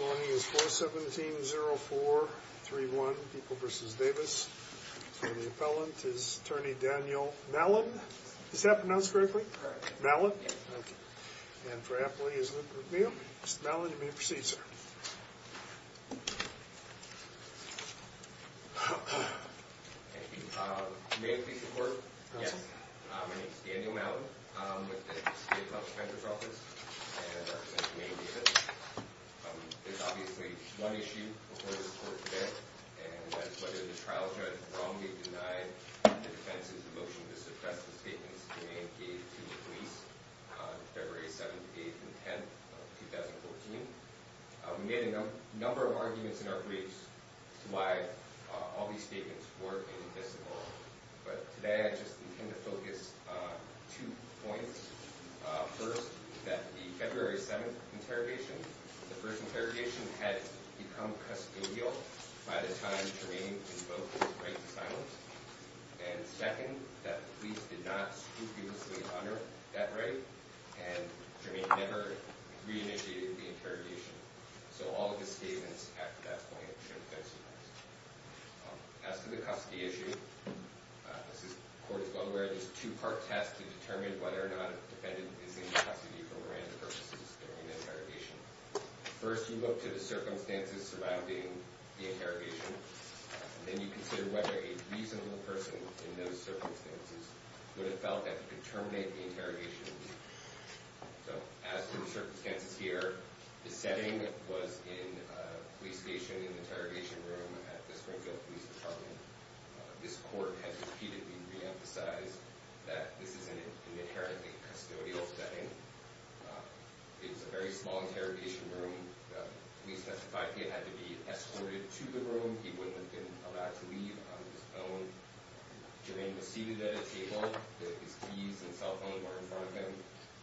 Morning is 417-0431, People v. Davis. For the appellant is Attorney Daniel Mellon. Is that pronounced correctly? Correct. Mellon? Yes. Thank you. And for appellee is Mr. McNeil. Mr. Mellon, you may proceed, sir. Thank you. May I speak to the court? Yes. My name is Daniel Mellon with the State Health Inspector's Office, and I represent Humane Davis. There's obviously one issue before this court today, and that's whether the trial judge wrongly denied the defense's motion to suppress the statements Humane gave to the police on February 7, 8, and 10 of 2014. We made a number of arguments in our briefs to why all these statements were invisible. But today, I just intend to focus on two points. First, that the February 7th interrogation, the first interrogation had become custodial by the time Jermaine invoked his right to silence. And second, that the police did not scrupulously honor that right, and Jermaine never re-initiated the interrogation. So all of his statements after that point should have been suppressed. As to the custody issue, this is, the court is well aware, there's two-part tests to determine whether or not a defendant is in custody for Miranda purposes during the interrogation. First, you look to the circumstances surrounding the interrogation, and then you consider whether a reasonable person in those circumstances would have felt that he could terminate the interrogation. So as for the circumstances here, the setting was in a police station in the interrogation room at the Springfield Police Department. This court has repeatedly re-emphasized that this is an inherently custodial setting. It's a very small interrogation room. The police testified he had to be escorted to the room. He wouldn't have been allowed to leave on his own. Jermaine was seated at a table. His keys and cell phone were in front of him.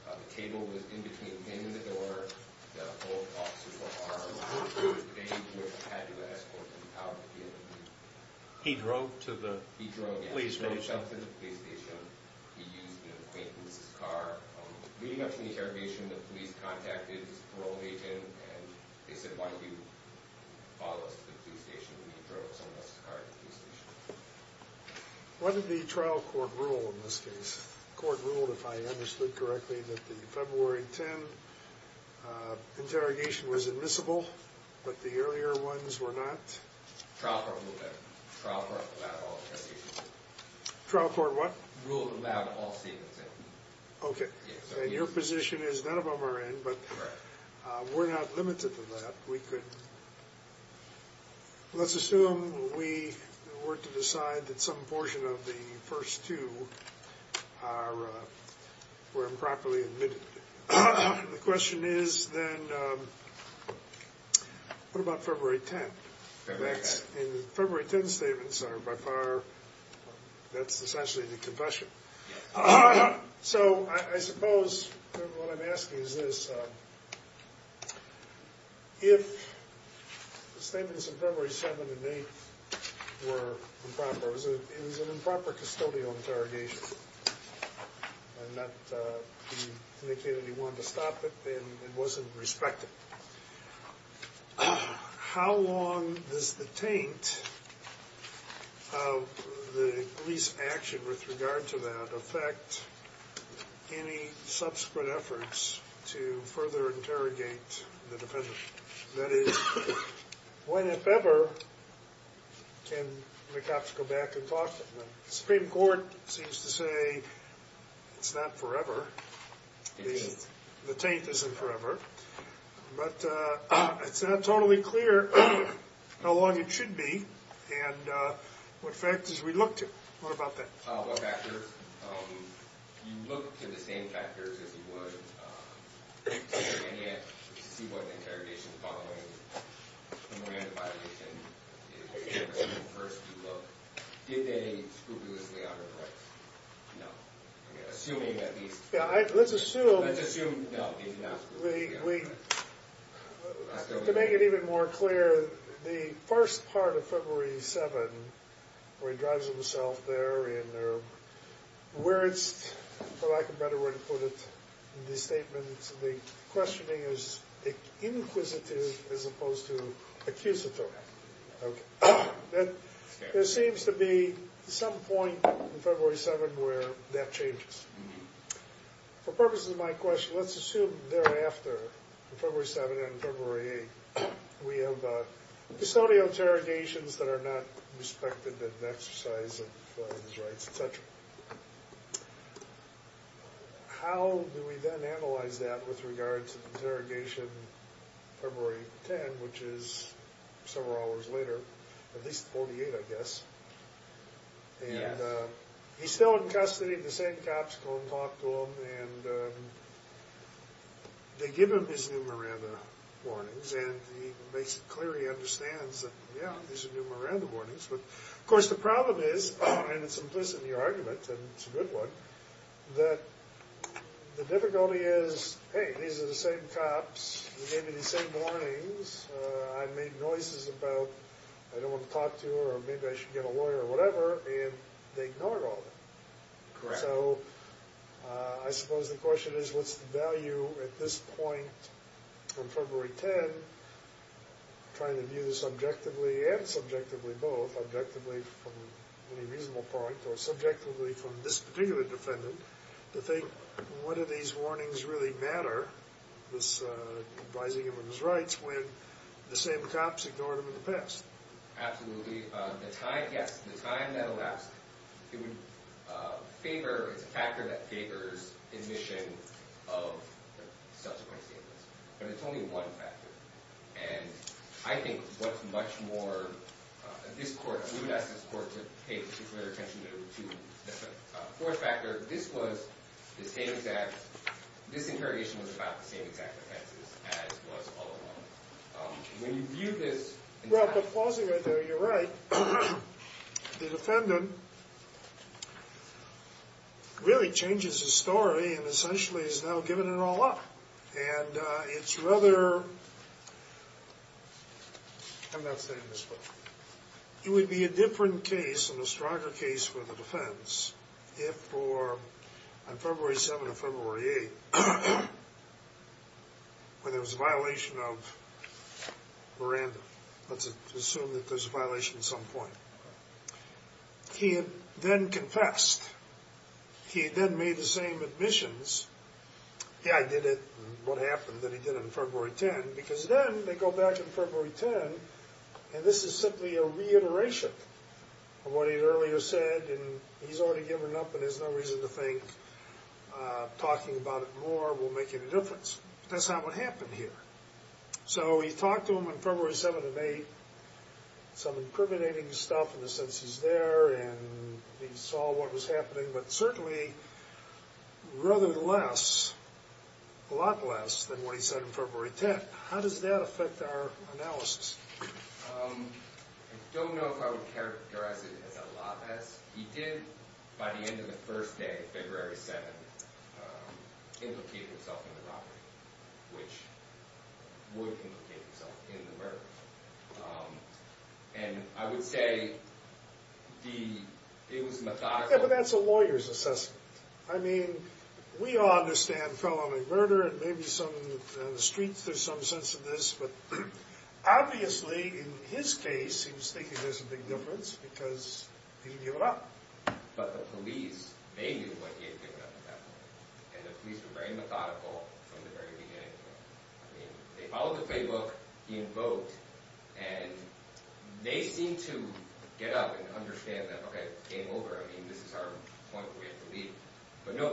The table was in between him and the door. The officers were armed. It was the day he had to escort the power to the other room. He drove to the police station. He drove to the police station. He used an acquaintance's car. Leading up to the interrogation, the police contacted his parole agent, and they said, why don't you follow us to the police station? And he drove someone else's car to the police station. What did the trial court rule in this case? Court ruled, if I understood correctly, that the February 10 interrogation was admissible, but the earlier ones were not. Trial court ruled that. Trial court allowed all seats in. Trial court what? Ruled allowed all seats in. OK. And your position is none of them are in, but we're not limited to that. We could. Let's assume we were to decide that some portion of the first two were improperly admitted. The question is then, what about February 10? In fact, in the February 10 statements, by far, that's essentially the confession. So I suppose what I'm asking is this. If the statements of February 7 and 8 were improper, it was an improper custodial interrogation, and that he indicated he wanted to stop it, and it wasn't respected. How long does the taint of the police action with regard to that affect any subsequent efforts to further interrogate the defendant? That is, when, if ever, can the cops go back and talk to them? Supreme Court seems to say it's not forever. It isn't. The taint isn't forever. But it's not totally clear how long it should be, and what factors we look to. What about that? What factors? You look to the same factors as you would interrogate, to see what interrogation following the Miranda violation is the first you look. Did they scrupulously honor the rights? No. Assuming, at least. Yeah, let's assume. Let's assume, no, he didn't ask for it. To make it even more clear, the first part of February 7, where he drives himself there, and where it's, for lack of a better word to put it, in the statement, the questioning is inquisitive as opposed to accusatory. There seems to be some point in February 7 where that changes. For purposes of my question, let's assume thereafter, in February 7 and February 8, we have custodial interrogations that are not respected as an exercise of his rights, et cetera. How do we then analyze that with regard to the interrogation February 10, which is several hours later? At least 48, I guess. Yes. And he's still in custody. The same cops go and talk to him. And they give him his new Miranda warnings. And he makes it clear he understands that, yeah, these are new Miranda warnings. But of course, the problem is, and it's implicit in the argument, and it's a good one, that the difficulty is, hey, these are the same cops. They gave me the same warnings. I made noises about, I don't want to talk to her, or maybe I should get a lawyer, or whatever. And they ignored all of it. So I suppose the question is, what's the value at this point from February 10, trying to view this objectively and subjectively both, objectively from any reasonable point, or subjectively from this particular defendant, to think, what do these warnings really matter, this advising him of his rights, when the same cops ignored him in the past? Absolutely. The time, yes. The time that elapsed, it's a factor that favors admission of subsequent statements. But it's only one factor. And I think what's much more, this court, we would ask this court to pay particular attention to the fourth factor. This was the same exact, this interrogation was about the same exact offenses as was all along. When you view this in time. Well, the closing right there, you're right. The defendant really changes his story, and essentially is now giving it all up. And it's rather, I'm not saying this, but it would be a different case and a stronger case for the defense if, on February 7 or February 8, when there was a violation of Miranda. Let's assume that there's a violation at some point. He had then confessed. He had then made the same admissions. Yeah, I did it. What happened that he did it on February 10? Because then, they go back to February 10, and this is simply a reiteration of what he had earlier said. And he's already given up, and there's no reason to think talking about it more will make any difference. That's not what happened here. So he talked to him on February 7 and 8, some incriminating stuff in the sense he's there, and he saw what was happening. But certainly, rather less, a lot less, than what he said on February 10. How does that affect our analysis? I don't know if I would characterize it as a lot less. He did, by the end of the first day, February 7, implicate himself in the robbery, which would implicate himself in the murder. And I would say it was methodical. Yeah, but that's a lawyer's assessment. I mean, we all understand felony murder, and maybe some in the streets, there's some sense of this. But obviously, in his case, he was a big difference, because he didn't give it up. But the police, they knew what he had given up at that point. And the police were very methodical from the very beginning. They followed the playbook he invoked, and they seemed to get up and understand that, OK, game over. I mean, this is our point we have to leave. But no,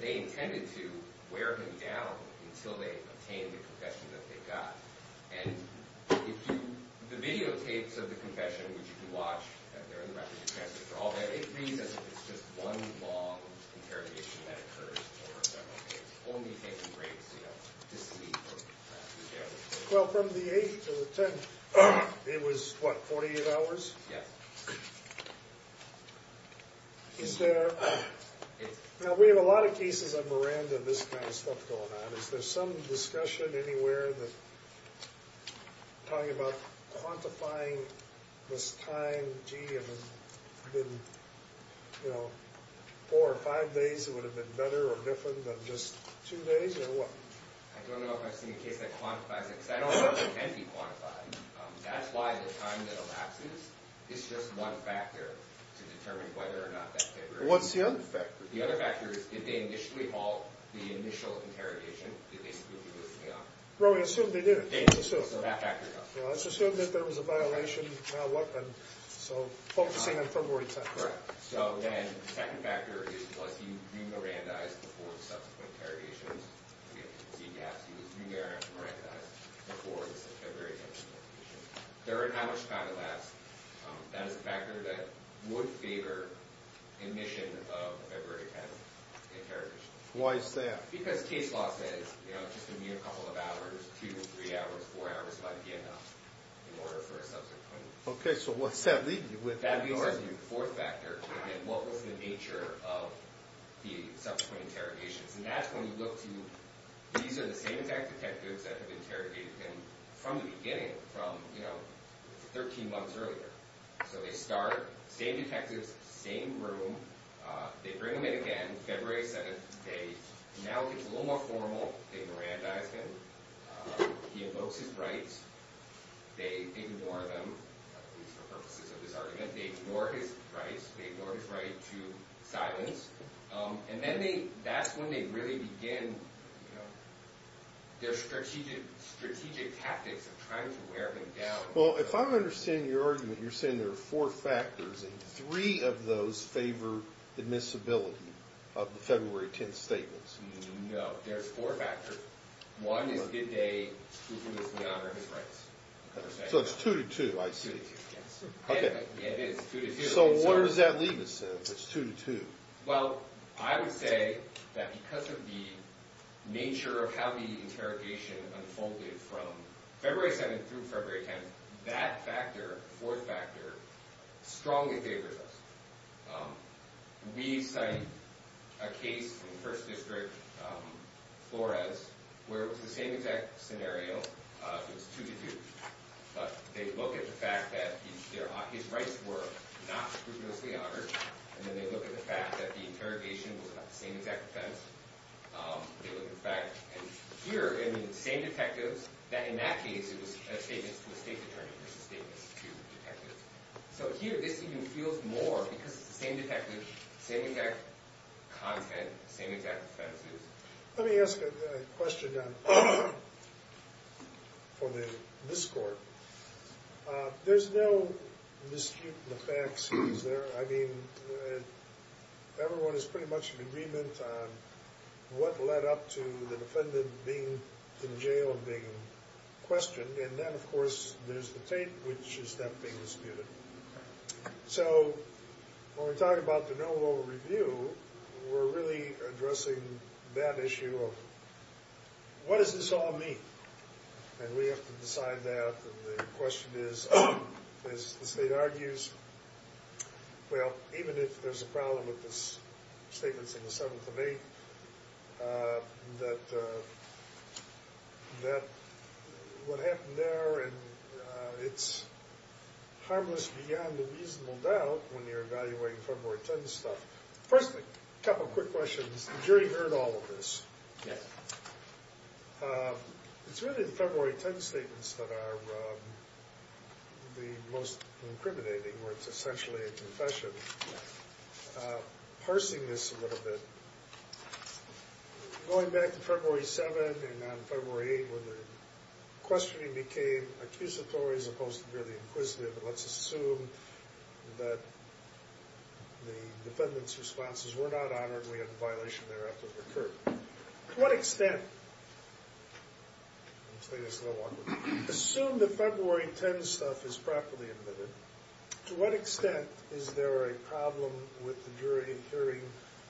they intended to wear him down until they obtained the confession that they got. And the videotapes of the confession, which you can watch, they're in the records. For all that, it seems as if it's just one long interrogation that occurs over several days, only taking breaks to sleep. Well, from the 8th to the 10th, it was, what, 48 hours? Yeah. Now, we have a lot of cases on Miranda and this kind of stuff going on. Is there some discussion anywhere that talking about quantifying this time, gee, if it had been four or five days, it would have been better or different than just two days? Or what? I don't know if I've seen a case that quantifies it, because I don't know if it can be quantified. That's why the time that elapses is just one factor to determine whether or not that figure is true. What's the other factor? The other factor is, did they initially halt the initial interrogation? Did they simply do this in the office? Well, we assumed they did. They assumed. So that factor is off. Well, it's assumed that there was a violation, now what then? So focusing on February 10th. Correct. So then the second factor is, was he re-Miranda-ized before the subsequent interrogations? Again, ZDFs, he was re-Miranda-ized before the February 10th interrogation. During how much time it lasts, that is a factor that would favor admission of February 10th Why is that? Because case law says, just a mere couple of hours, two, three hours, four hours might be enough in order for a subsequent. OK, so what's that lead you with? That leads us to the fourth factor, and what was the nature of the subsequent interrogations? And that's when you look to, these are the same detectives that have interrogated him from the beginning, from 13 months earlier. So they start, same detectives, same room. They bring him in again, February 7th. They now get a little more formal. They Miranda-ize him. He invokes his rights. They ignore them, at least for purposes of this argument. They ignore his rights. They ignore his right to silence. And then that's when they really begin their strategic tactics of trying to wear him down. Well, if I understand your argument, you're saying there are four factors, and three of those favor admissibility of the February 10th statements. No, there's four factors. One is, did they do this in honor of his rights? So it's two to two, I see. Yes, it is two to two. So where does that leave us, then, if it's two to two? Well, I would say that because of the nature of how the interrogation unfolded from February 7th through February 10th, that factor, fourth factor, strongly favors us. We cite a case in First District, Flores, where it was the same exact scenario. It was two to two. But they look at the fact that his rights were not scrupulously honored, and then they look at the fact that the interrogation was about the same exact offense. They look at the fact, and here, in the same detectives, that in that case, it was a statement to a state attorney and it was a statement to detectives. So here, this even feels more, because it's the same detectives, same exact content, same exact offenses. Let me ask a question for the Miss Court. There's no dispute in the facts, is there? I mean, everyone is pretty much in agreement on what led up to the defendant being in jail and being questioned, and then, of course, there's the tape, which is not being disputed. So, when we talk about the no lower review, we're really addressing that issue of what does this all mean? And we have to decide that, and the question is, as the state argues, well, even if there's a problem with the statements in the 7th and 8th, that what happened there, and it's harmless beyond a reasonable doubt when you're evaluating February 10th stuff. First, a couple quick questions. The jury heard all of this. It's really the February 10th statements that are the most incriminating, where it's essentially a confession. I'm actually parsing this a little bit. Going back to February 7th and on February 8th, when the questioning became accusatory as opposed to really inquisitive, but let's assume that the defendant's responses were not honored, we had a violation thereafter occurred. To what extent, I'm playing this a little awkward, assume the February 10th stuff is properly admitted, to what extent is there a problem with the jury hearing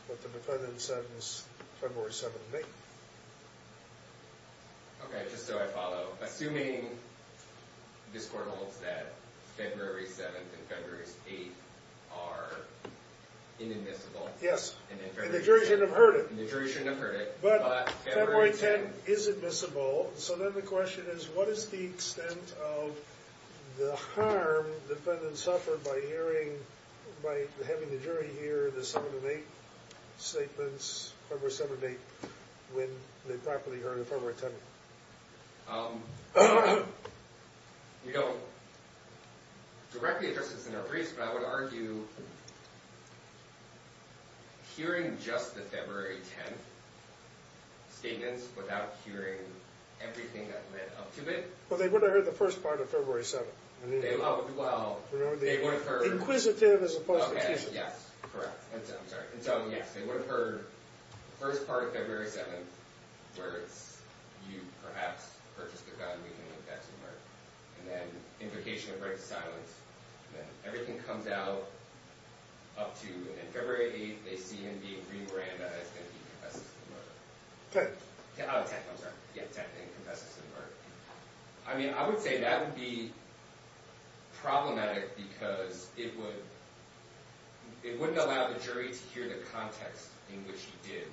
what the defendant said was February 7th and 8th? Okay, just so I follow, assuming this court holds that February 7th and February 8th are inadmissible. Yes, and the jury shouldn't have heard it. And the jury shouldn't have heard it. But February 10th is admissible, so then the question is, what is the extent of the harm the defendant suffered by hearing, by having the jury hear the 7th and 8th statements, February 7th and 8th, when they properly heard the February 10th? You don't directly address this in a race, but I would argue hearing just the February 10th statements without hearing everything that led up to it. Well, they would have heard the first part of February 7th. They loved, well, they would have heard. Inquisitive as opposed to accusative. Yes, correct, I'm sorry. And so, yes, they would have heard the first part of February 7th, where it's you perhaps purchased a gun, we can link that to the murder. And then indication of right to silence. Everything comes out up to, in February 8th, they see him being re-branded as going to be confessing to the murder. 10th. Oh, 10th, I'm sorry. Yeah, 10th, he confesses to the murder. I mean, I would say that would be problematic because it wouldn't allow the jury to hear the context in which he did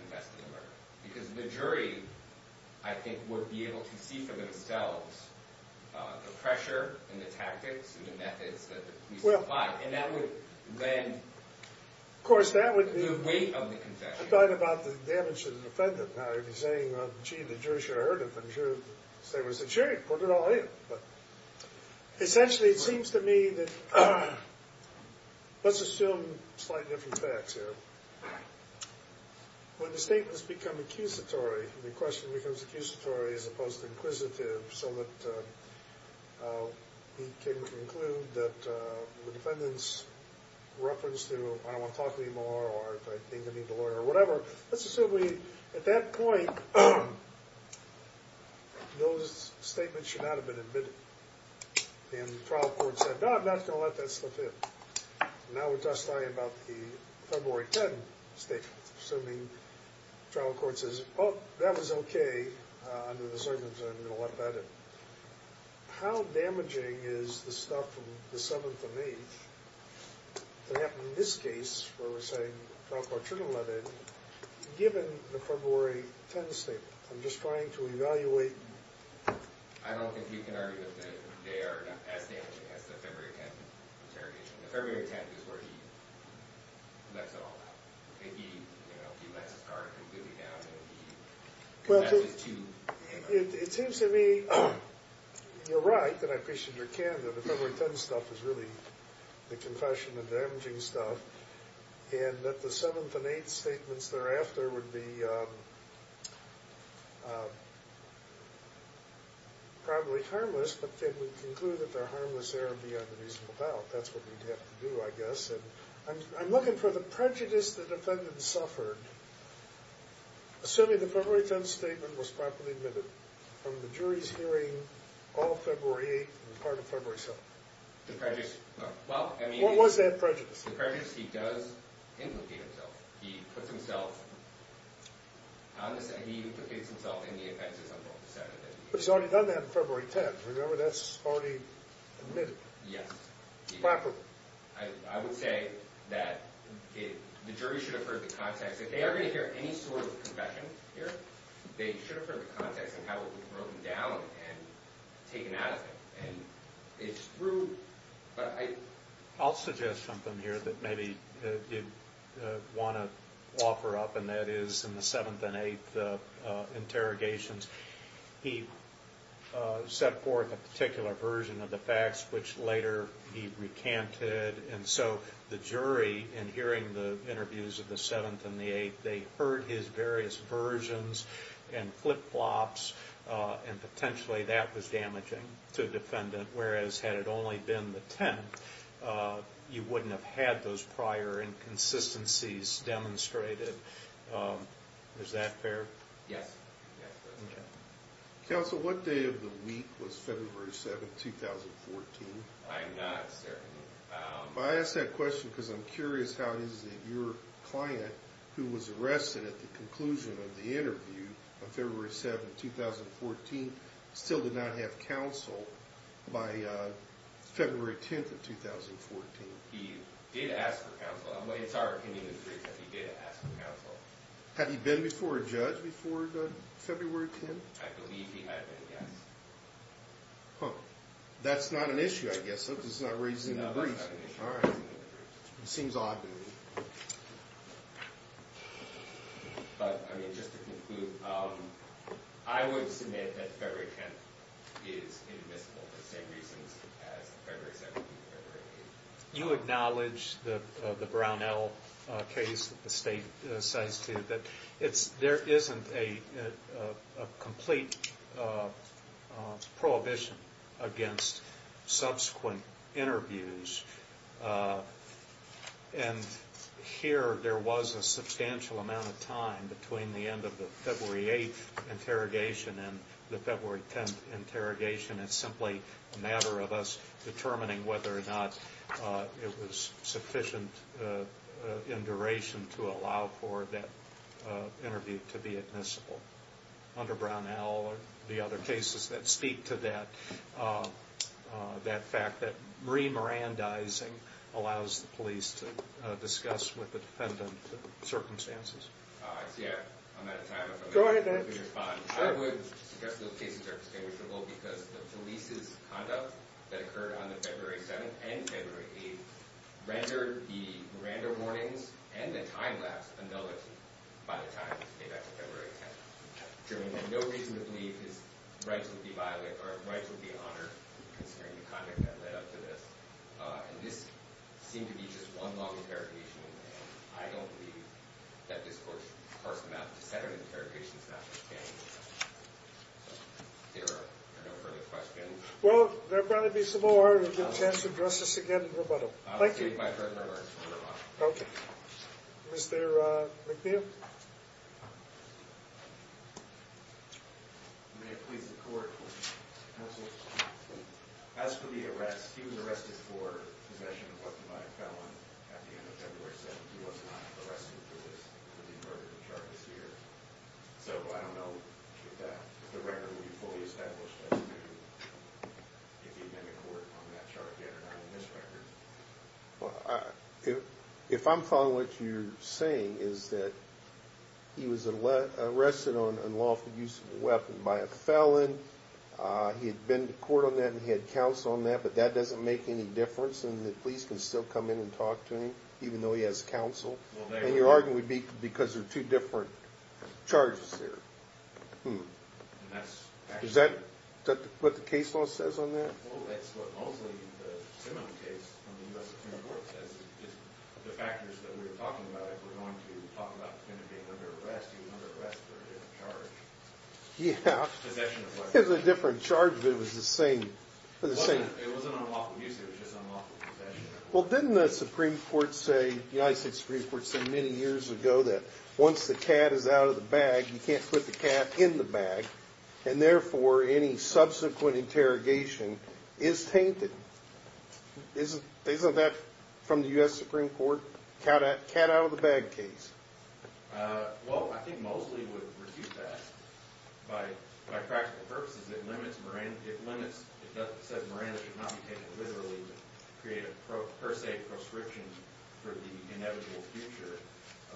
confess to the murder. Because the jury, I think, would be able to see for themselves the pressure and the tactics and the methods that the police applied. And that would then, the weight of the confession. I thought about the damage to the defendant. I'd be saying, gee, the jury should have heard him. And the jury would say, sure, put it all in. But essentially, it seems to me that, let's assume slight different facts here. When the statements become accusatory, the question becomes accusatory as opposed to inquisitive, so that he can conclude that the defendant's reference to I don't want to talk to you anymore, or if I think I need a lawyer, or whatever. Let's assume we, at that point, those statements should not have been admitted. And the trial court said, no, I'm not gonna let that slip in. Now we're just talking about the February 10th statement. Assuming the trial court says, oh, that was okay under the circumstances, I'm gonna let that in. How damaging is the stuff from the 7th and 8th that happened in this case, where we're saying trial court shouldn't have let it in, given the February 10th statement? I'm just trying to evaluate. I don't think you can argue that they are as damaging as the February 10th interrogation. The February 10th is where he lets it all out. He lets his guard completely down, and he confesses to. It seems to me, you're right, and I appreciate your candor, the February 10th stuff is really the confession of damaging stuff, and that the 7th and 8th statements thereafter would be probably harmless, but then we conclude that they're harmless there and beyond a reasonable doubt. That's what we'd have to do, I guess. I'm looking for the prejudice the defendant suffered, assuming the February 10th statement was properly admitted from the jury's hearing all February 8th and part of February 7th. The prejudice, well, I mean. What was that prejudice? The prejudice he does implicate himself. He puts himself on the side, he implicates himself in the offenses on both the 7th and 8th. But he's already done that in February 10th. Remember, that's already admitted. Yes. Properly. I would say that the jury should have heard the context. If they are gonna hear any sort of confession here, they should have heard the context and how it was broken down and taken out of it, and it's true, but I... I'll suggest something here that maybe you wanna offer up, and that is in the 7th and 8th interrogations, he set forth a particular version of the facts, which later he recanted. And so the jury, in hearing the interviews of the 7th and the 8th, they heard his various versions and flip-flops, and potentially that was damaging to the defendant, whereas had it only been the 10th, you wouldn't have had those prior inconsistencies demonstrated. Is that fair? Yes. Counsel, what day of the week was February 7th, 2014? I'm not certain. I ask that question because I'm curious how is it your client, who was arrested at the conclusion of the interview on February 7th, 2014, still did not have counsel by February 10th of 2014? He did ask for counsel. It's our opinion that he did ask for counsel. Had he been before a judge before February 10th? I believe he had been, yes. Huh. That's not an issue, I guess. That's not raising the briefs. All right. It seems odd to me. But, I mean, just to conclude, I would submit that February 10th is inadmissible for the same reasons as February 7th and February 8th. You acknowledge the Brownell case that the state cites, too, that there isn't a complete prohibition against subsequent interviews. And here, there was a substantial amount of time between the end of the February 8th interrogation and the February 10th interrogation. It's simply a matter of us determining whether or not it was sufficient in duration to allow for that interview to be admissible. Under Brownell, the other cases that speak to that, that fact that re-Mirandizing allows the police to discuss with the defendant the circumstances. All right. So, yeah, I'm out of time. Go ahead, Dan. I would suggest those cases are distinguishable because the police's conduct that occurred on the February 7th and February 8th rendered the Miranda warnings and the time lapse annulled by the time it came back to February 10th. Truman had no reason to believe his rights would be violated or his rights would be honored considering the conduct that led up to this. And this seemed to be just one long interrogation. I don't believe that this court's first amount to seven interrogations is enough to stand the test of time. There are no further questions. Well, there better be some more. We'll get a chance to address this again in rebuttal. Thank you. I'll state my first remarks. Okay. Mr. McNeil. Thank you. May it please the court, counsel, as for the arrest, he was arrested for possession of a weapon by a felon at the end of February 7th. He was not arrested for this, for the murder of the charge this year. So I don't know if the record will be fully established as to if he'd been in court on that charge Well, if I'm following what you're saying is that he was arrested on unlawful use of a weapon by a felon. He had been to court on that and he had counsel on that, but that doesn't make any difference and the police can still come in and talk to him even though he has counsel. And you're arguing because there are two different charges there. Is that what the case law says on that? Well, that's what mostly the seminal case on the U.S. Supreme Court says. The factors that we're talking about, we're going to talk about him being under arrest, he was under arrest for a different charge. Yeah. Possession of a weapon. It was a different charge, but it was the same. It wasn't unlawful use, it was just unlawful possession. Well, didn't the Supreme Court say, the United States Supreme Court said many years ago that once the cat is out of the bag, you can't put the cat in the bag, and therefore any subsequent interrogation is tainted. Isn't that from the U.S. Supreme Court? Cat out of the bag case. Well, I think mostly it would refute that. By practical purposes, it limits Miranda, it limits, it says Miranda should not be taken literally to create a per se proscription for the inevitable future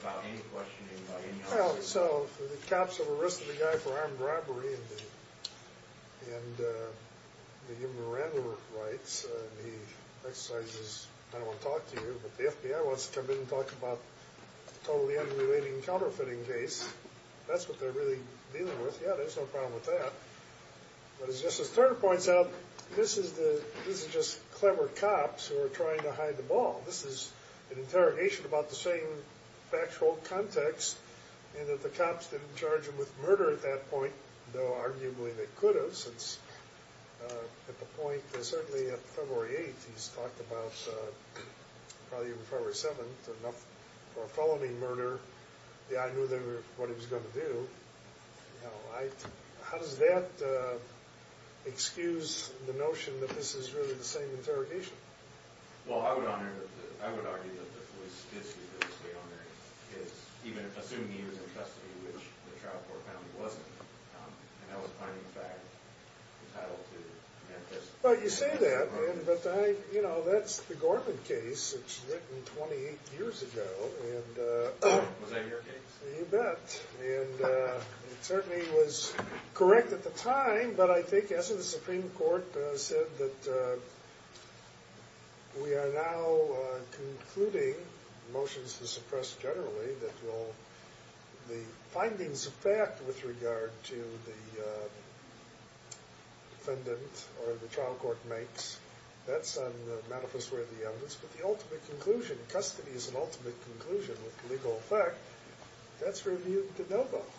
about any questioning by any other person. Well, so, the cops have arrested the guy for armed robbery and the Miranda rights. He exercises, I don't want to talk to you, but the FBI wants to come in and talk about totally unrelated and counterfeiting case. That's what they're really dealing with. Yeah, there's no problem with that. But as Justice Turner points out, this is just clever cops who are trying to hide the ball. This is an interrogation about the same factual context, and that the cops didn't charge him with murder at that point, though arguably they could have, since at the point, certainly at February 8th, he's talked about, probably even February 7th, enough for a felony murder. Yeah, I knew they were, what he was going to do. How does that excuse the notion that this is really the same interrogation? Well, I would argue that the police did see that it stayed on their case, even assuming he was in custody, which the trial court found he wasn't. And that was finding the fact entitled to that. Well, you say that, but that's the Gorman case. It's written 28 years ago, and... Was that your case? You bet, and it certainly was correct at the time, but I think, as the Supreme Court said, that we are now concluding motions to suppress generally that will, the findings of fact with regard to the defendant or the trial court makes, that's on the manifest way of the evidence, but the ultimate conclusion, custody is an ultimate conclusion with legal effect, that's reviewed to no vote.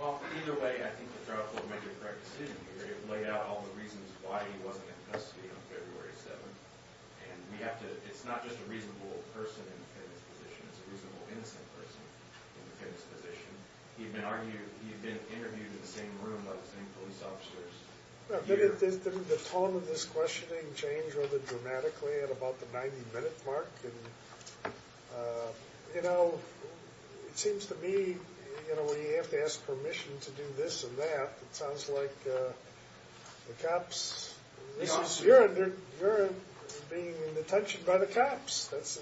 Well, either way, I think the trial court made the correct decision here. It laid out all the reasons why he wasn't in custody on February 7th, and we have to, it's not just a reasonable person in the defendant's position, it's a reasonable innocent person in the defendant's position. He'd been argued, he'd been interviewed in the same room by the same police officers. But the tone of this questioning changed rather dramatically at about the 90 minute mark, and, you know, it seems to me, you know, when you have to ask permission to do this and that, it sounds like the cops, this is, you're under, you're being in detention by the cops. That's,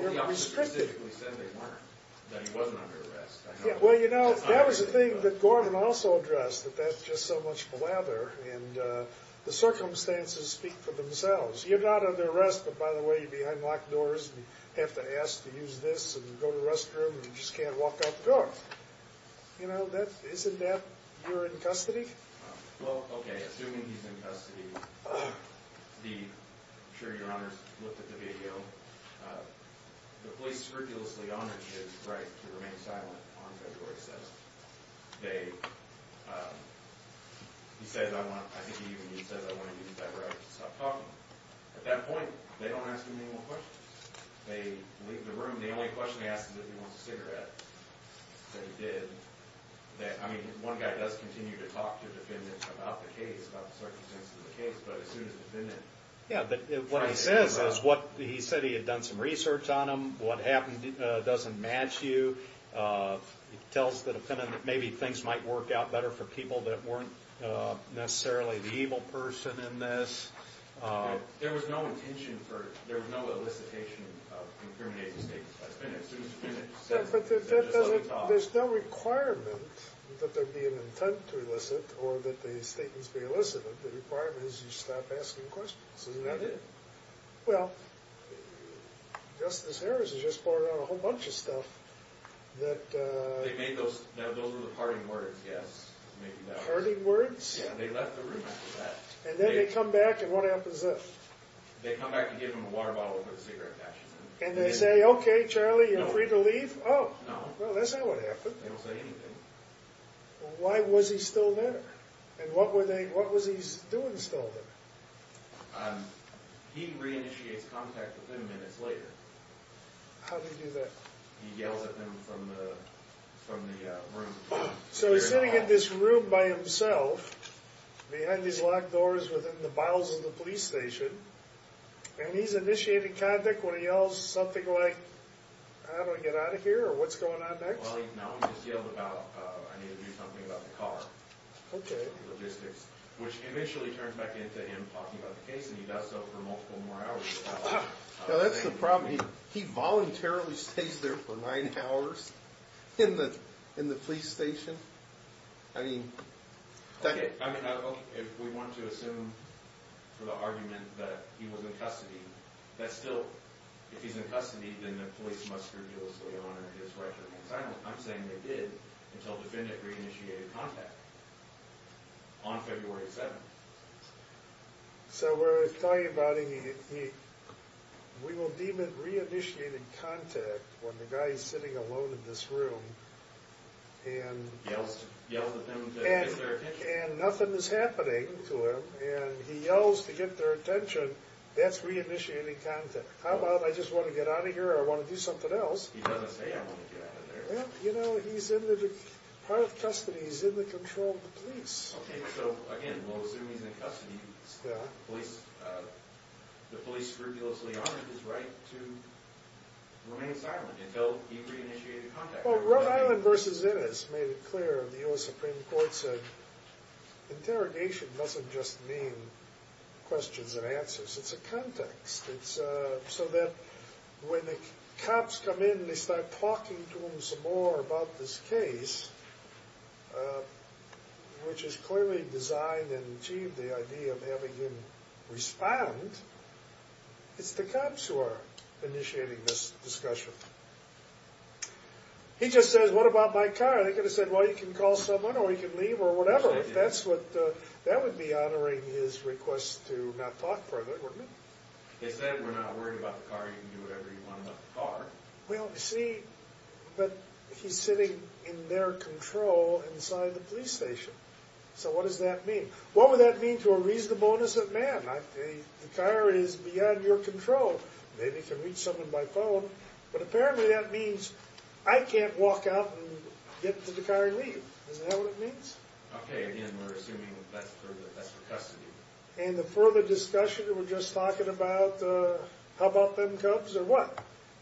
you're restricted. Well, the officers specifically said they weren't, that he wasn't under arrest. Well, you know, that was the thing that Gorman also addressed, that that's just so much blather, and the circumstances speak for themselves. You're not under arrest, but by the way, you're behind locked doors, and you have to ask to use this, and you go to the restroom, and you just can't walk out the door. You know, that, isn't that, you're in custody? Well, okay, assuming he's in custody, the, I'm sure your honors looked at the video, the police scrupulously honored his right to remain silent on February 7th. They, he said, I want, I think he even, he says, I want to use that right to stop talking. At that point, they don't ask him any more questions. They leave the room. The only question he asks is if he wants a cigarette. So he did. That, I mean, one guy does continue to talk to defendants about the case, about the circumstances of the case, but as soon as the defendant- Yeah, but what he says is what, he said he had done some research on him. What happened doesn't match you. He tells the defendant that maybe things might work out better for people that weren't necessarily the evil person in this. There was no intention for, there was no elicitation of incriminating statements by the defendant. It was finished. It was finished. Yeah, but that doesn't, there's no requirement that there be an intent to elicit or that the statements be elicited. The requirement is you stop asking questions. Isn't that it? Well, Justice Harris has just brought out a whole bunch of stuff that- They made those, those were the parting words, yes. Parting words? Yeah, they left the room after that. And then they come back and what happens then? They come back and give him a water bottle with a cigarette patch. And they say, okay, Charlie, you're free to leave? Oh, well, that's not what happened. They don't say anything. Why was he still there? And what were they, what was he doing still there? He re-initiates contact with them minutes later. How did he do that? He yells at them from the room. So he's sitting in this room by himself behind these locked doors within the bowels of the police station. And he's initiating contact when he yells something like, how do I get out of here? Or what's going on next? Well, no, he just yelled about, I need to do something about the car. Okay. Logistics, which initially turns back into him talking about the case. And he does so for multiple more hours. Now, that's the problem. He voluntarily stays there for nine hours in the police station. I mean, that. I mean, if we want to assume for the argument that he was in custody, that's still, if he's in custody, then the police must scrupulously honor his right to remain silent. I'm saying they did until the defendant re-initiated contact on February 7th. So we're talking about him, we will deem it re-initiated contact when the guy is sitting alone in this room. And nothing is happening to him. And he yells to get their attention. That's re-initiated contact. How about, I just want to get out of here. I want to do something else. He doesn't say, I want to get out of there. He's in the control of the police. OK, so again, we'll assume he's in custody. The police scrupulously honor his right to remain silent until he re-initiated contact. Well, Rhode Island versus Innis made it clear. The US Supreme Court said, interrogation doesn't just mean questions and answers. It's a context. So that when the cops come in and they start talking to him some more about this case, which is clearly designed and achieved the idea of having him respond, it's the cops who are initiating this discussion. He just says, what about my car? They could have said, well, you can call someone, or he can leave, or whatever. If that's what, that would be honoring his request to not talk further, wouldn't it? He said, we're not worried about the car. You can do whatever you want about the car. Well, see, but he's sitting in their control inside the police station. So what does that mean? What would that mean to a reasonableness of man? The car is beyond your control. Maybe he can reach someone by phone. But apparently that means, I can't walk out and get to the car and leave. Isn't that what it means? OK, again, we're assuming that's for custody. And the further discussion, we're just talking about, how about them cubs, or what?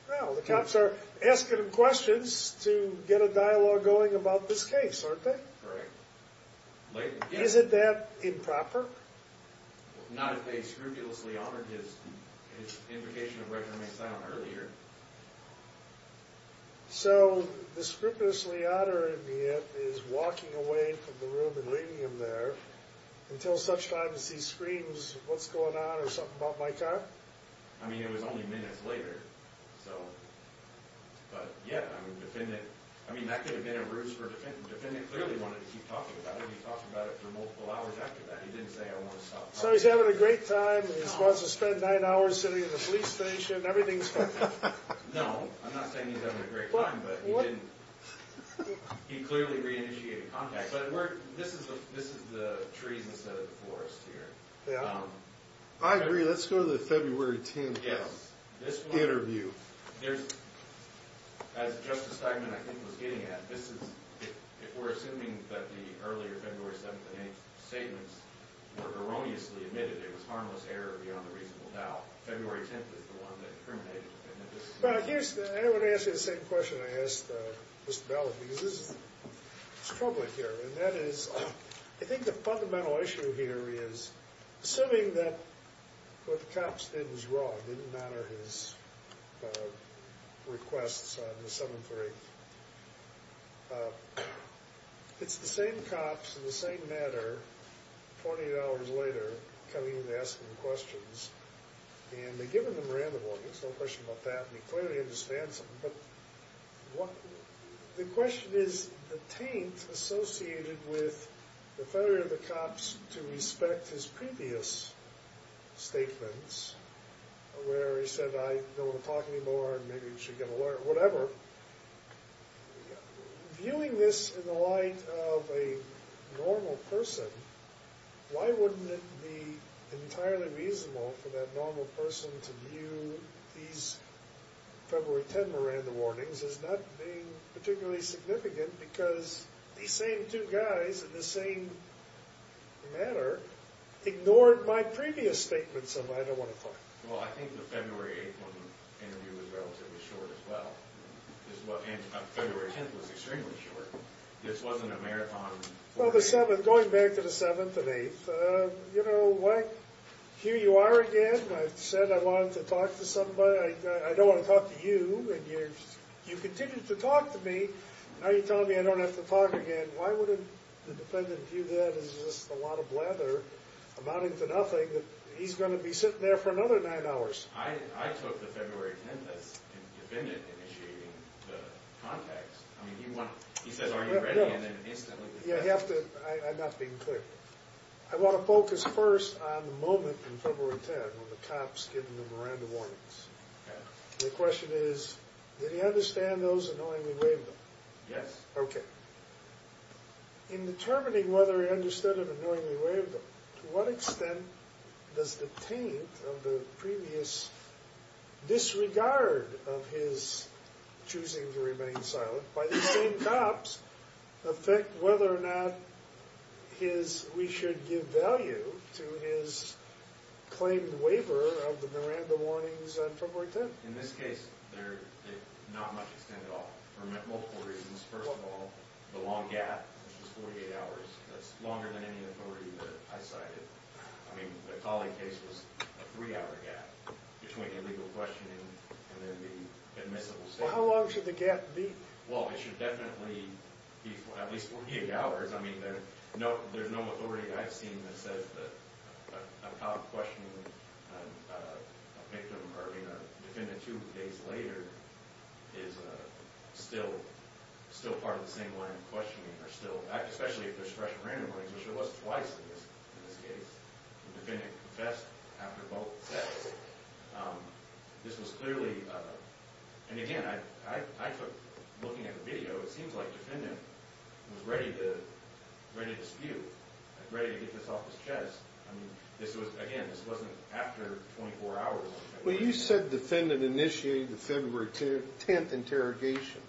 Well, the cops are asking him questions to get a dialogue going about this case, aren't they? Correct. Isn't that improper? Not if they scrupulously honored his invocation of record and make silent earlier. So the scrupulously honoring it is walking away from the room and leaving him there until such time as he screams, what's going on, or something about my car? I mean, it was only minutes later. But yeah, I mean, that could have been a ruse for a defendant. The defendant clearly wanted to keep talking about it. He talked about it for multiple hours after that. He didn't say, I want to stop talking. So he's having a great time. He wants to spend nine hours sitting in the police station. Everything's fine. No. I'm not saying he's having a great time, but he didn't. He clearly re-initiated contact. But this is the trees instead of the forest here. I agree. Let's go to the February 10th interview. As Justice Steinman, I think, was getting at, if we're assuming that the earlier February 7th and 8th statements were erroneously admitted, it was harmless error beyond a reasonable doubt. February 10th is the one that incriminated the defendant. I want to ask you the same question I asked Mr. Bell because this is troubling here. And that is, I think the fundamental issue here is assuming that what the cops did was wrong. It didn't matter his requests on the 7th or 8th. It's the same cops in the same manner, $40 later, coming in and asking questions. And they've given them random orders. No question about that. And he clearly understands them. But the question is the taint associated with the failure of the cops to respect his previous statements, where he said, I don't want to talk anymore, maybe we should get a lawyer, whatever. Viewing this in the light of a normal person, why wouldn't it be entirely reasonable for that normal person to view these February 10th Miranda warnings as not being particularly significant because these same two guys in the same manner ignored my previous statements of I don't want to talk. Well, I think the February 8th interview was relatively short as well. And February 10th was extremely short. This wasn't a marathon. Well, the 7th, going back to the 7th and 8th, you know, here you are again. I said I wanted to talk to somebody. I don't want to talk to you. And you continued to talk to me. Now you're telling me I don't have to talk again. Why wouldn't the defendant view that as just a lot of blather, amounting to nothing, that he's going to be sitting there for another nine hours? I took the February 10th as the defendant initiating the context. I mean, he said, are you ready? And then, instantly, he left. I'm not being clear. I want to focus first on the moment in February 10th when the cops give him the Miranda warnings. The question is, did he understand those and knowingly waived them? Yes. Okay. In determining whether he understood them and knowingly waived them, to what extent does the taint of the previous disregard of his choosing to remain silent by the same cops affect whether or not we should give value to his claimed waiver of the Miranda warnings on February 10th? In this case, they're not much extended at all for multiple reasons. First of all, the long gap, which was 48 hours. That's longer than any authority that I cited. I mean, the Colley case was a three-hour gap between the legal questioning and then the admissible statement. Well, how long should the gap be? Well, it should definitely be at least 48 hours. I mean, there's no authority I've seen that says that a cop questioning a victim or being a defendant two days later is still part of the same line of questioning, especially if there's fresh Miranda warnings, which there was twice in this case. The defendant confessed after both sets. This was clearly, and again, looking at the video, it seems like the defendant was ready to spew, ready to get this off his chest. I mean, again, this wasn't after 24 hours. Well, you said defendant initiated the February 10th interrogation.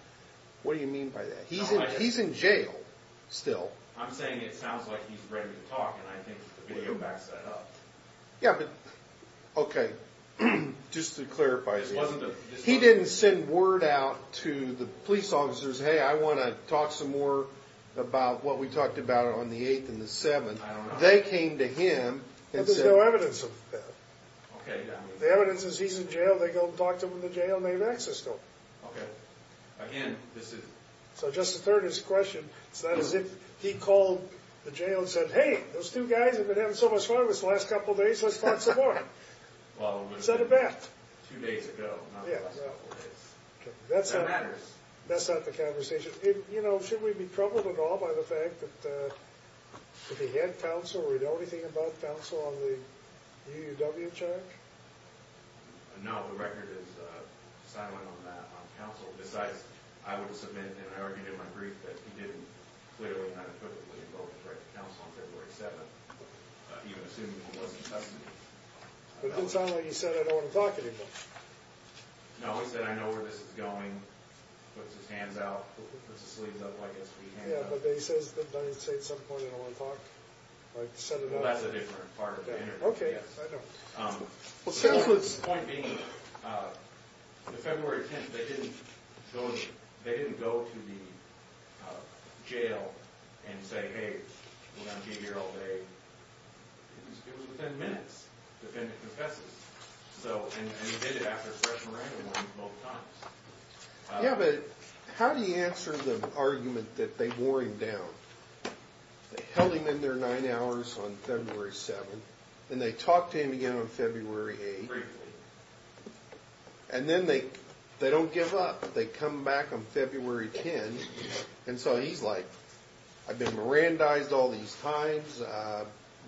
What do you mean by that? He's in jail still. I'm saying it sounds like he's ready to talk, and I think the video backs that up. Yeah, but, okay, just to clarify. He didn't send word out to the police officers, hey, I want to talk some more about what we talked about on the 8th and the 7th. They came to him and said... There's no evidence of that. The evidence is he's in jail, they go and talk to him in the jail, and they've accessed him. Okay. Again, this is... So just to further his question, it's not as if he called the jail and said, hey, those two guys have been having so much fun with us the last couple days, let's talk some more. He said it back. Two days ago, not the last couple days. That matters. That's not the conversation. You know, should we be troubled at all by the fact that if he had counsel or we know anything about counsel on the UUW charge? No, the record is silent on that, on counsel. Besides, I would submit, and I already did in my brief, that he didn't clearly and unequivocally invoke the right to counsel on February 7th, even assuming it wasn't testimony. It didn't sound like he said, I don't want to talk anymore. No, he said, I know where this is going. He puts his hands out. He puts his sleeves up like a sweet hand. Yeah, but he says at some point, I don't want to talk. Well, that's a different part of the interview. Okay, I know. The point being, the February 10th, they didn't go to the jail and say, hey, we're going to be here all day. It was within minutes, the defendant confesses. So, and he did it after fresh Miranda went both times. Yeah, but how do you answer the argument that they wore him down? They held him in there nine hours on February 7th. Then they talked to him again on February 8th. Briefly. And then they don't give up. They come back on February 10th. And so he's like, I've been Mirandized all these times.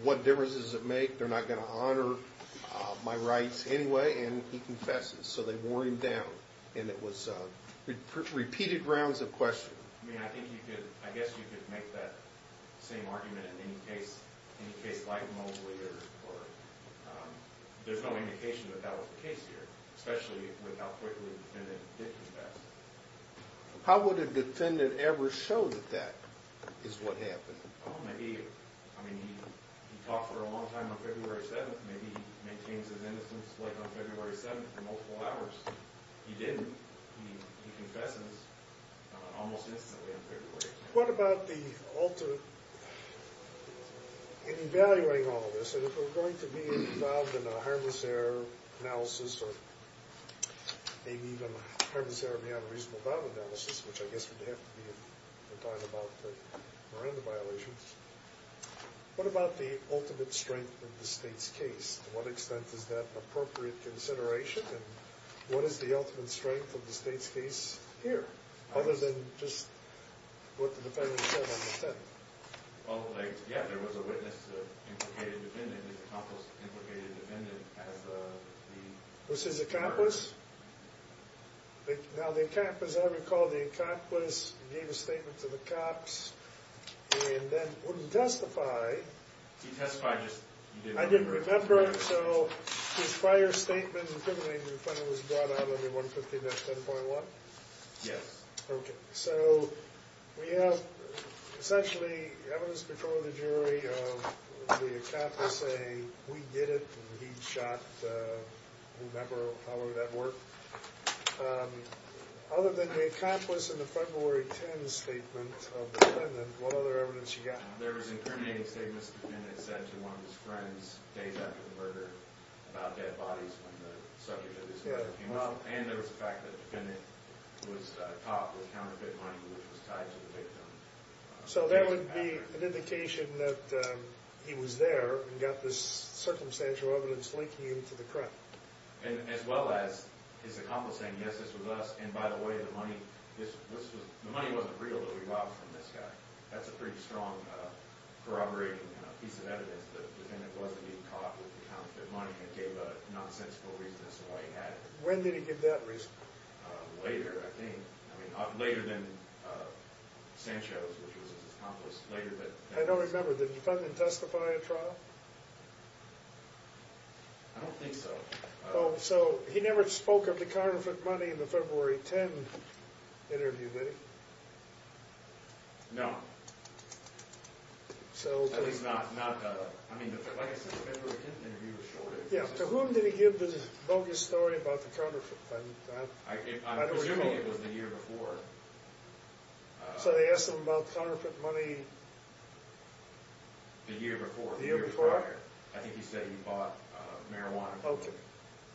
What difference does it make? They're not going to honor my rights anyway. And he confesses. So they wore him down. And it was repeated rounds of questioning. I mean, I think you could, I guess you could make that same argument in any case, any case like Mobley or there's no indication that that was the case here, especially with how quickly the defendant did confess. How would a defendant ever show that that is what happened? Oh, maybe, I mean, he talked for a long time on February 7th. Maybe he maintains his innocence like on February 7th for multiple hours. He didn't. He confesses almost instantly on February 8th. What about the alter in evaluating all of this? And if we're going to be involved in a harmless error analysis or maybe even a harmless error may have a reasonable value analysis, which I guess would have to be if we're talking about the Miranda violations. What about the ultimate strength of the state's case? To what extent is that an appropriate consideration? And what is the ultimate strength of the state's case here, other than just what the defendant said on the 10th? Well, like, yeah, there was a witness to implicated defendant. His accomplice implicated the defendant as the... Who says accomplice? Now, the accomplice, I recall, the accomplice gave a statement to the cops and then wouldn't testify. He testified. I didn't remember. So his fire statement implicated the defendant was brought out under 150-10.1? Yes. Okay. So we have essentially evidence before the jury of the accomplice saying, we did it and he shot whoever, however that worked. Other than the accomplice and the February 10th statement of the defendant, what other evidence you got? There was incriminating statements the defendant said to one of his friends days after the murder about dead bodies when the subject of his murder came up. And there was the fact that the defendant was caught with counterfeit money which was tied to the victim. So that would be an indication that he was there and got this circumstantial evidence linking him to the crime. And as well as his accomplice saying, yes, this was us, and by the way, the money wasn't real that we robbed from this guy. That's a pretty strong corroborating piece of evidence that the defendant wasn't being caught with counterfeit money and gave a nonsensical reason as to why he had it. When did he give that reason? Later, I think. I mean, later than Sanchez, which was his accomplice. I don't remember. Did the defendant testify in trial? I don't think so. Oh, so he never spoke of the counterfeit money in the February 10th interview, did he? No. At least not, I mean, like I said, the February 10th interview was short. Yeah. To whom did he give the bogus story about the counterfeit money? I'm presuming it was the year before. So they asked him about counterfeit money... The year before. The year before? I think he said he bought marijuana from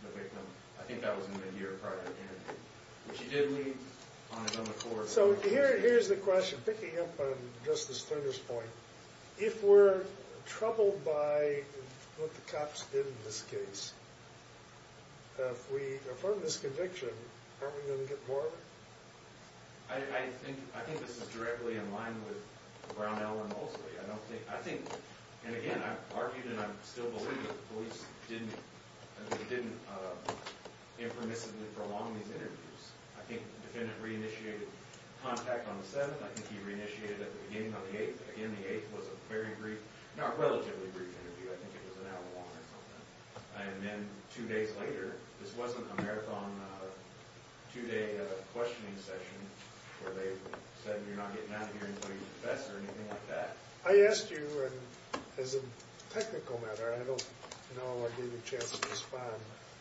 the victim. I think that was in the year prior to the interview. Which he did leave on his own accord. So here's the question, picking up on Justice Turner's point. If we're troubled by what the cops did in this case, if we affirm this conviction, aren't we going to get more of it? I think this is directly in line with Brownell and Mosley. I think, and again, I've argued and I still believe that the police didn't impermissibly prolong these interviews. I think the defendant re-initiated contact on the 7th. I think he re-initiated it at the beginning on the 8th. Again, the 8th was a very brief, not relatively brief interview. I think it was an hour long or something. And then two days later, this wasn't a marathon, two-day questioning session where they said you're not getting out of here until you confess or anything like that. I asked you, as a technical matter, I don't know if I gave you a chance to respond,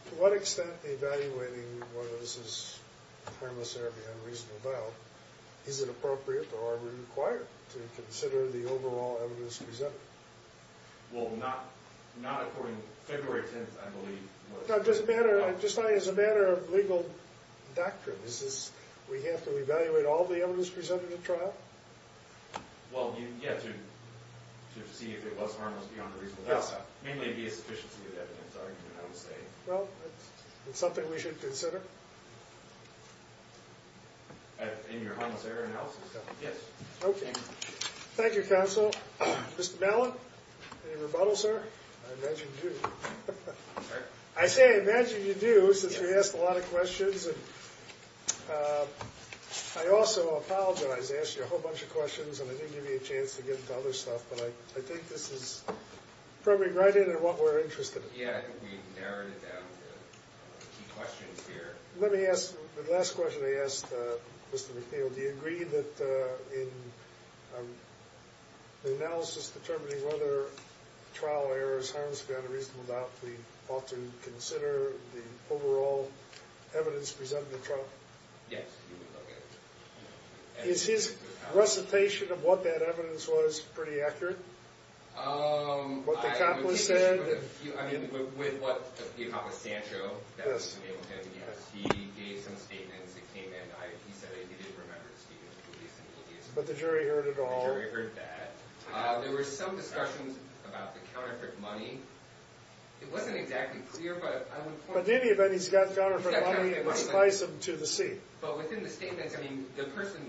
to what extent evaluating whether this is harmless or unreasonable, is it appropriate or are we required to consider the overall evidence presented? Well, not according to February 10th, I believe. No, just as a matter of legal doctrine, is this we have to evaluate all the evidence presented at trial? Well, yeah, to see if it was harmless beyond a reasonable doubt. Mainly it would be a sufficiency of evidence, I would say. Well, it's something we should consider. Yes. Okay. Thank you, counsel. Mr. Malin, any rebuttals, sir? I imagine you do. I say I imagine you do, since we asked a lot of questions. And I also apologize, I asked you a whole bunch of questions and I didn't give you a chance to get into other stuff, but I think this is probably right in what we're interested in. Yeah, I think we've narrowed it down to key questions here. Let me ask, the last question I asked Mr. McNeil, do you agree that in the analysis determining whether trial errors harmless beyond a reasonable doubt, we ought to consider the overall evidence presented at trial? Yes. Is his recitation of what that evidence was pretty accurate? What the accomplice said? With what the accomplice said, yes. He gave some statements that came in. He said that he did remember the statements of the police and the media. But the jury heard it all? The jury heard that. There were some discussions about the counterfeit money. It wasn't exactly clear, but I'm important. But in any event, he's got counterfeit money and it was sliced into the seat. But within the statements, I mean, the person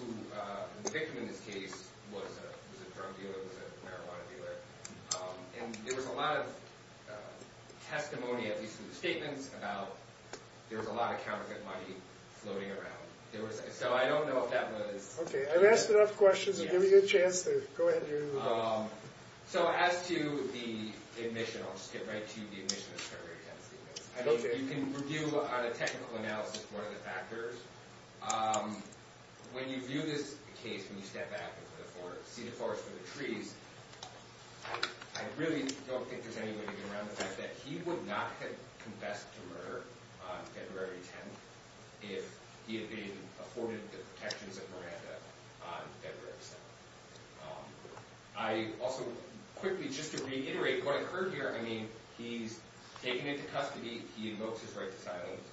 who was the victim in this case was a drug dealer, was a marijuana dealer. And there was a lot of testimony, at least in the statements, about there was a lot of counterfeit money floating around. So I don't know if that was. Okay. I've asked enough questions to give you a chance to go ahead. So as to the admission, I'll just get right to the admission. You can review on a technical analysis one of the factors. When you view this case, when you step back and see the forest with the trees, I really don't think there's any way to get around the fact that he would not have confessed to murder on February 10th if he had been afforded the protections of Miranda on February 7th. I also quickly, just to reiterate what occurred here, I mean, he's taken into custody. He invokes his right to silence.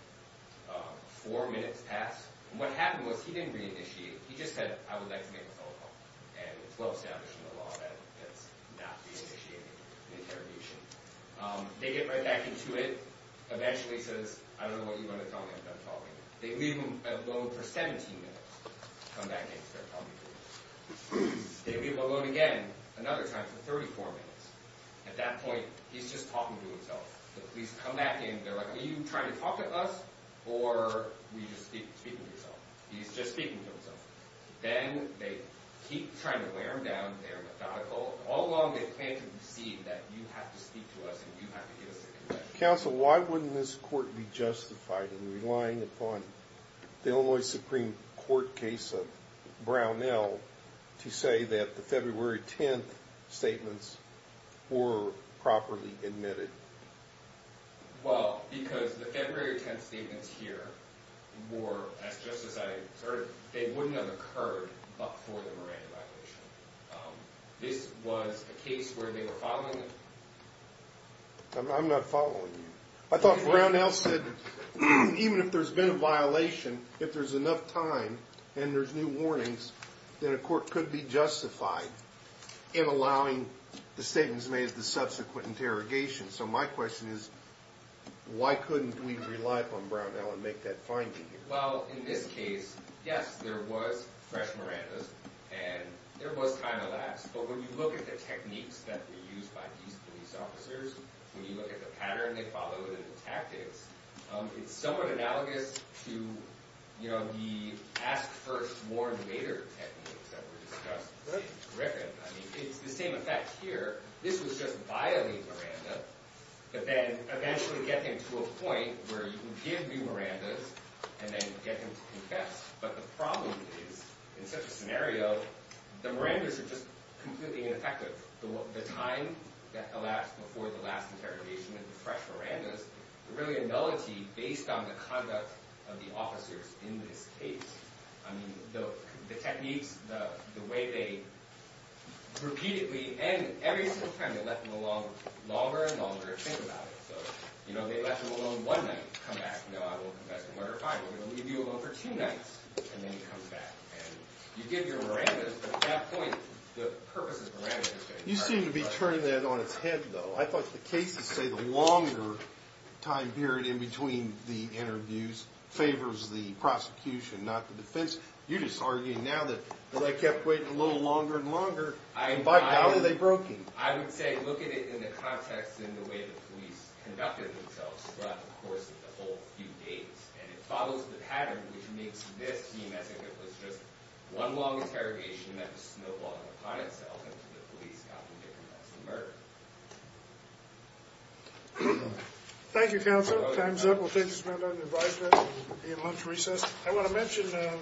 Four minutes pass. And what happened was he didn't reinitiate. He just said, I would like to make a phone call. And it's well established in the law that that's not the initiating interrogation. They get right back into it. Eventually he says, I don't know what you want to tell me. I'm done talking. They leave him alone for 17 minutes. Come back in and start talking to him. They leave him alone again another time for 34 minutes. At that point, he's just talking to himself. The police come back in. They're like, are you trying to talk to us or are you just speaking to yourself? He's just speaking to himself. Then they keep trying to wear him down. They're methodical. All along they plan to deceive that you have to speak to us and you have to give us a confession. Counsel, why wouldn't this court be justified in relying upon the Illinois Supreme Court case of Brownell to say that the February 10th statements were properly admitted? Well, because the February 10th statements here were, they wouldn't have occurred before the Miranda violation. This was a case where they were following it. I'm not following you. I thought Brownell said even if there's been a violation, if there's enough time and there's new warnings, then a court could be justified in allowing the statements made at the subsequent interrogation. So my question is, why couldn't we rely upon Brownell and make that finding? Well, in this case, yes, there was fresh Miranda's and there was time elapsed. But when you look at the techniques that were used by these police officers, when you look at the pattern they followed and the tactics, it's somewhat analogous to the ask first, warn later techniques that were discussed in Griffin. It's the same effect here. This was just violating Miranda, but then eventually get them to a point where you can give me Miranda's and then get them to confess. But the problem is, in such a scenario, the Miranda's are just completely ineffective. The time that elapsed before the last interrogation and the fresh Miranda's are really a nullity based on the conduct of the officers in this case. I mean, the techniques, the way they repeatedly, and every single time, they left them alone longer and longer to think about it. So, you know, they left them alone one night to come back, you know, I will confess tomorrow at 5. We're going to leave you alone for two nights, and then you come back. And you give your Miranda's, but at that point, the purpose is Miranda's. You seem to be turning that on its head, though. I thought the cases say the longer time period in between the interviews favors the prosecution, not the defense. You're just arguing now that I kept waiting a little longer and longer, and by now they broke in. I would say look at it in the context in the way the police conducted themselves throughout the course of the whole few days. And it follows the pattern, which makes this seem as if it was just one long interrogation that was snowballing upon itself until the police got them to confess the murder. Thank you, counsel. Time's up. We'll take this matter under advisement and lunch recess. I want to mention.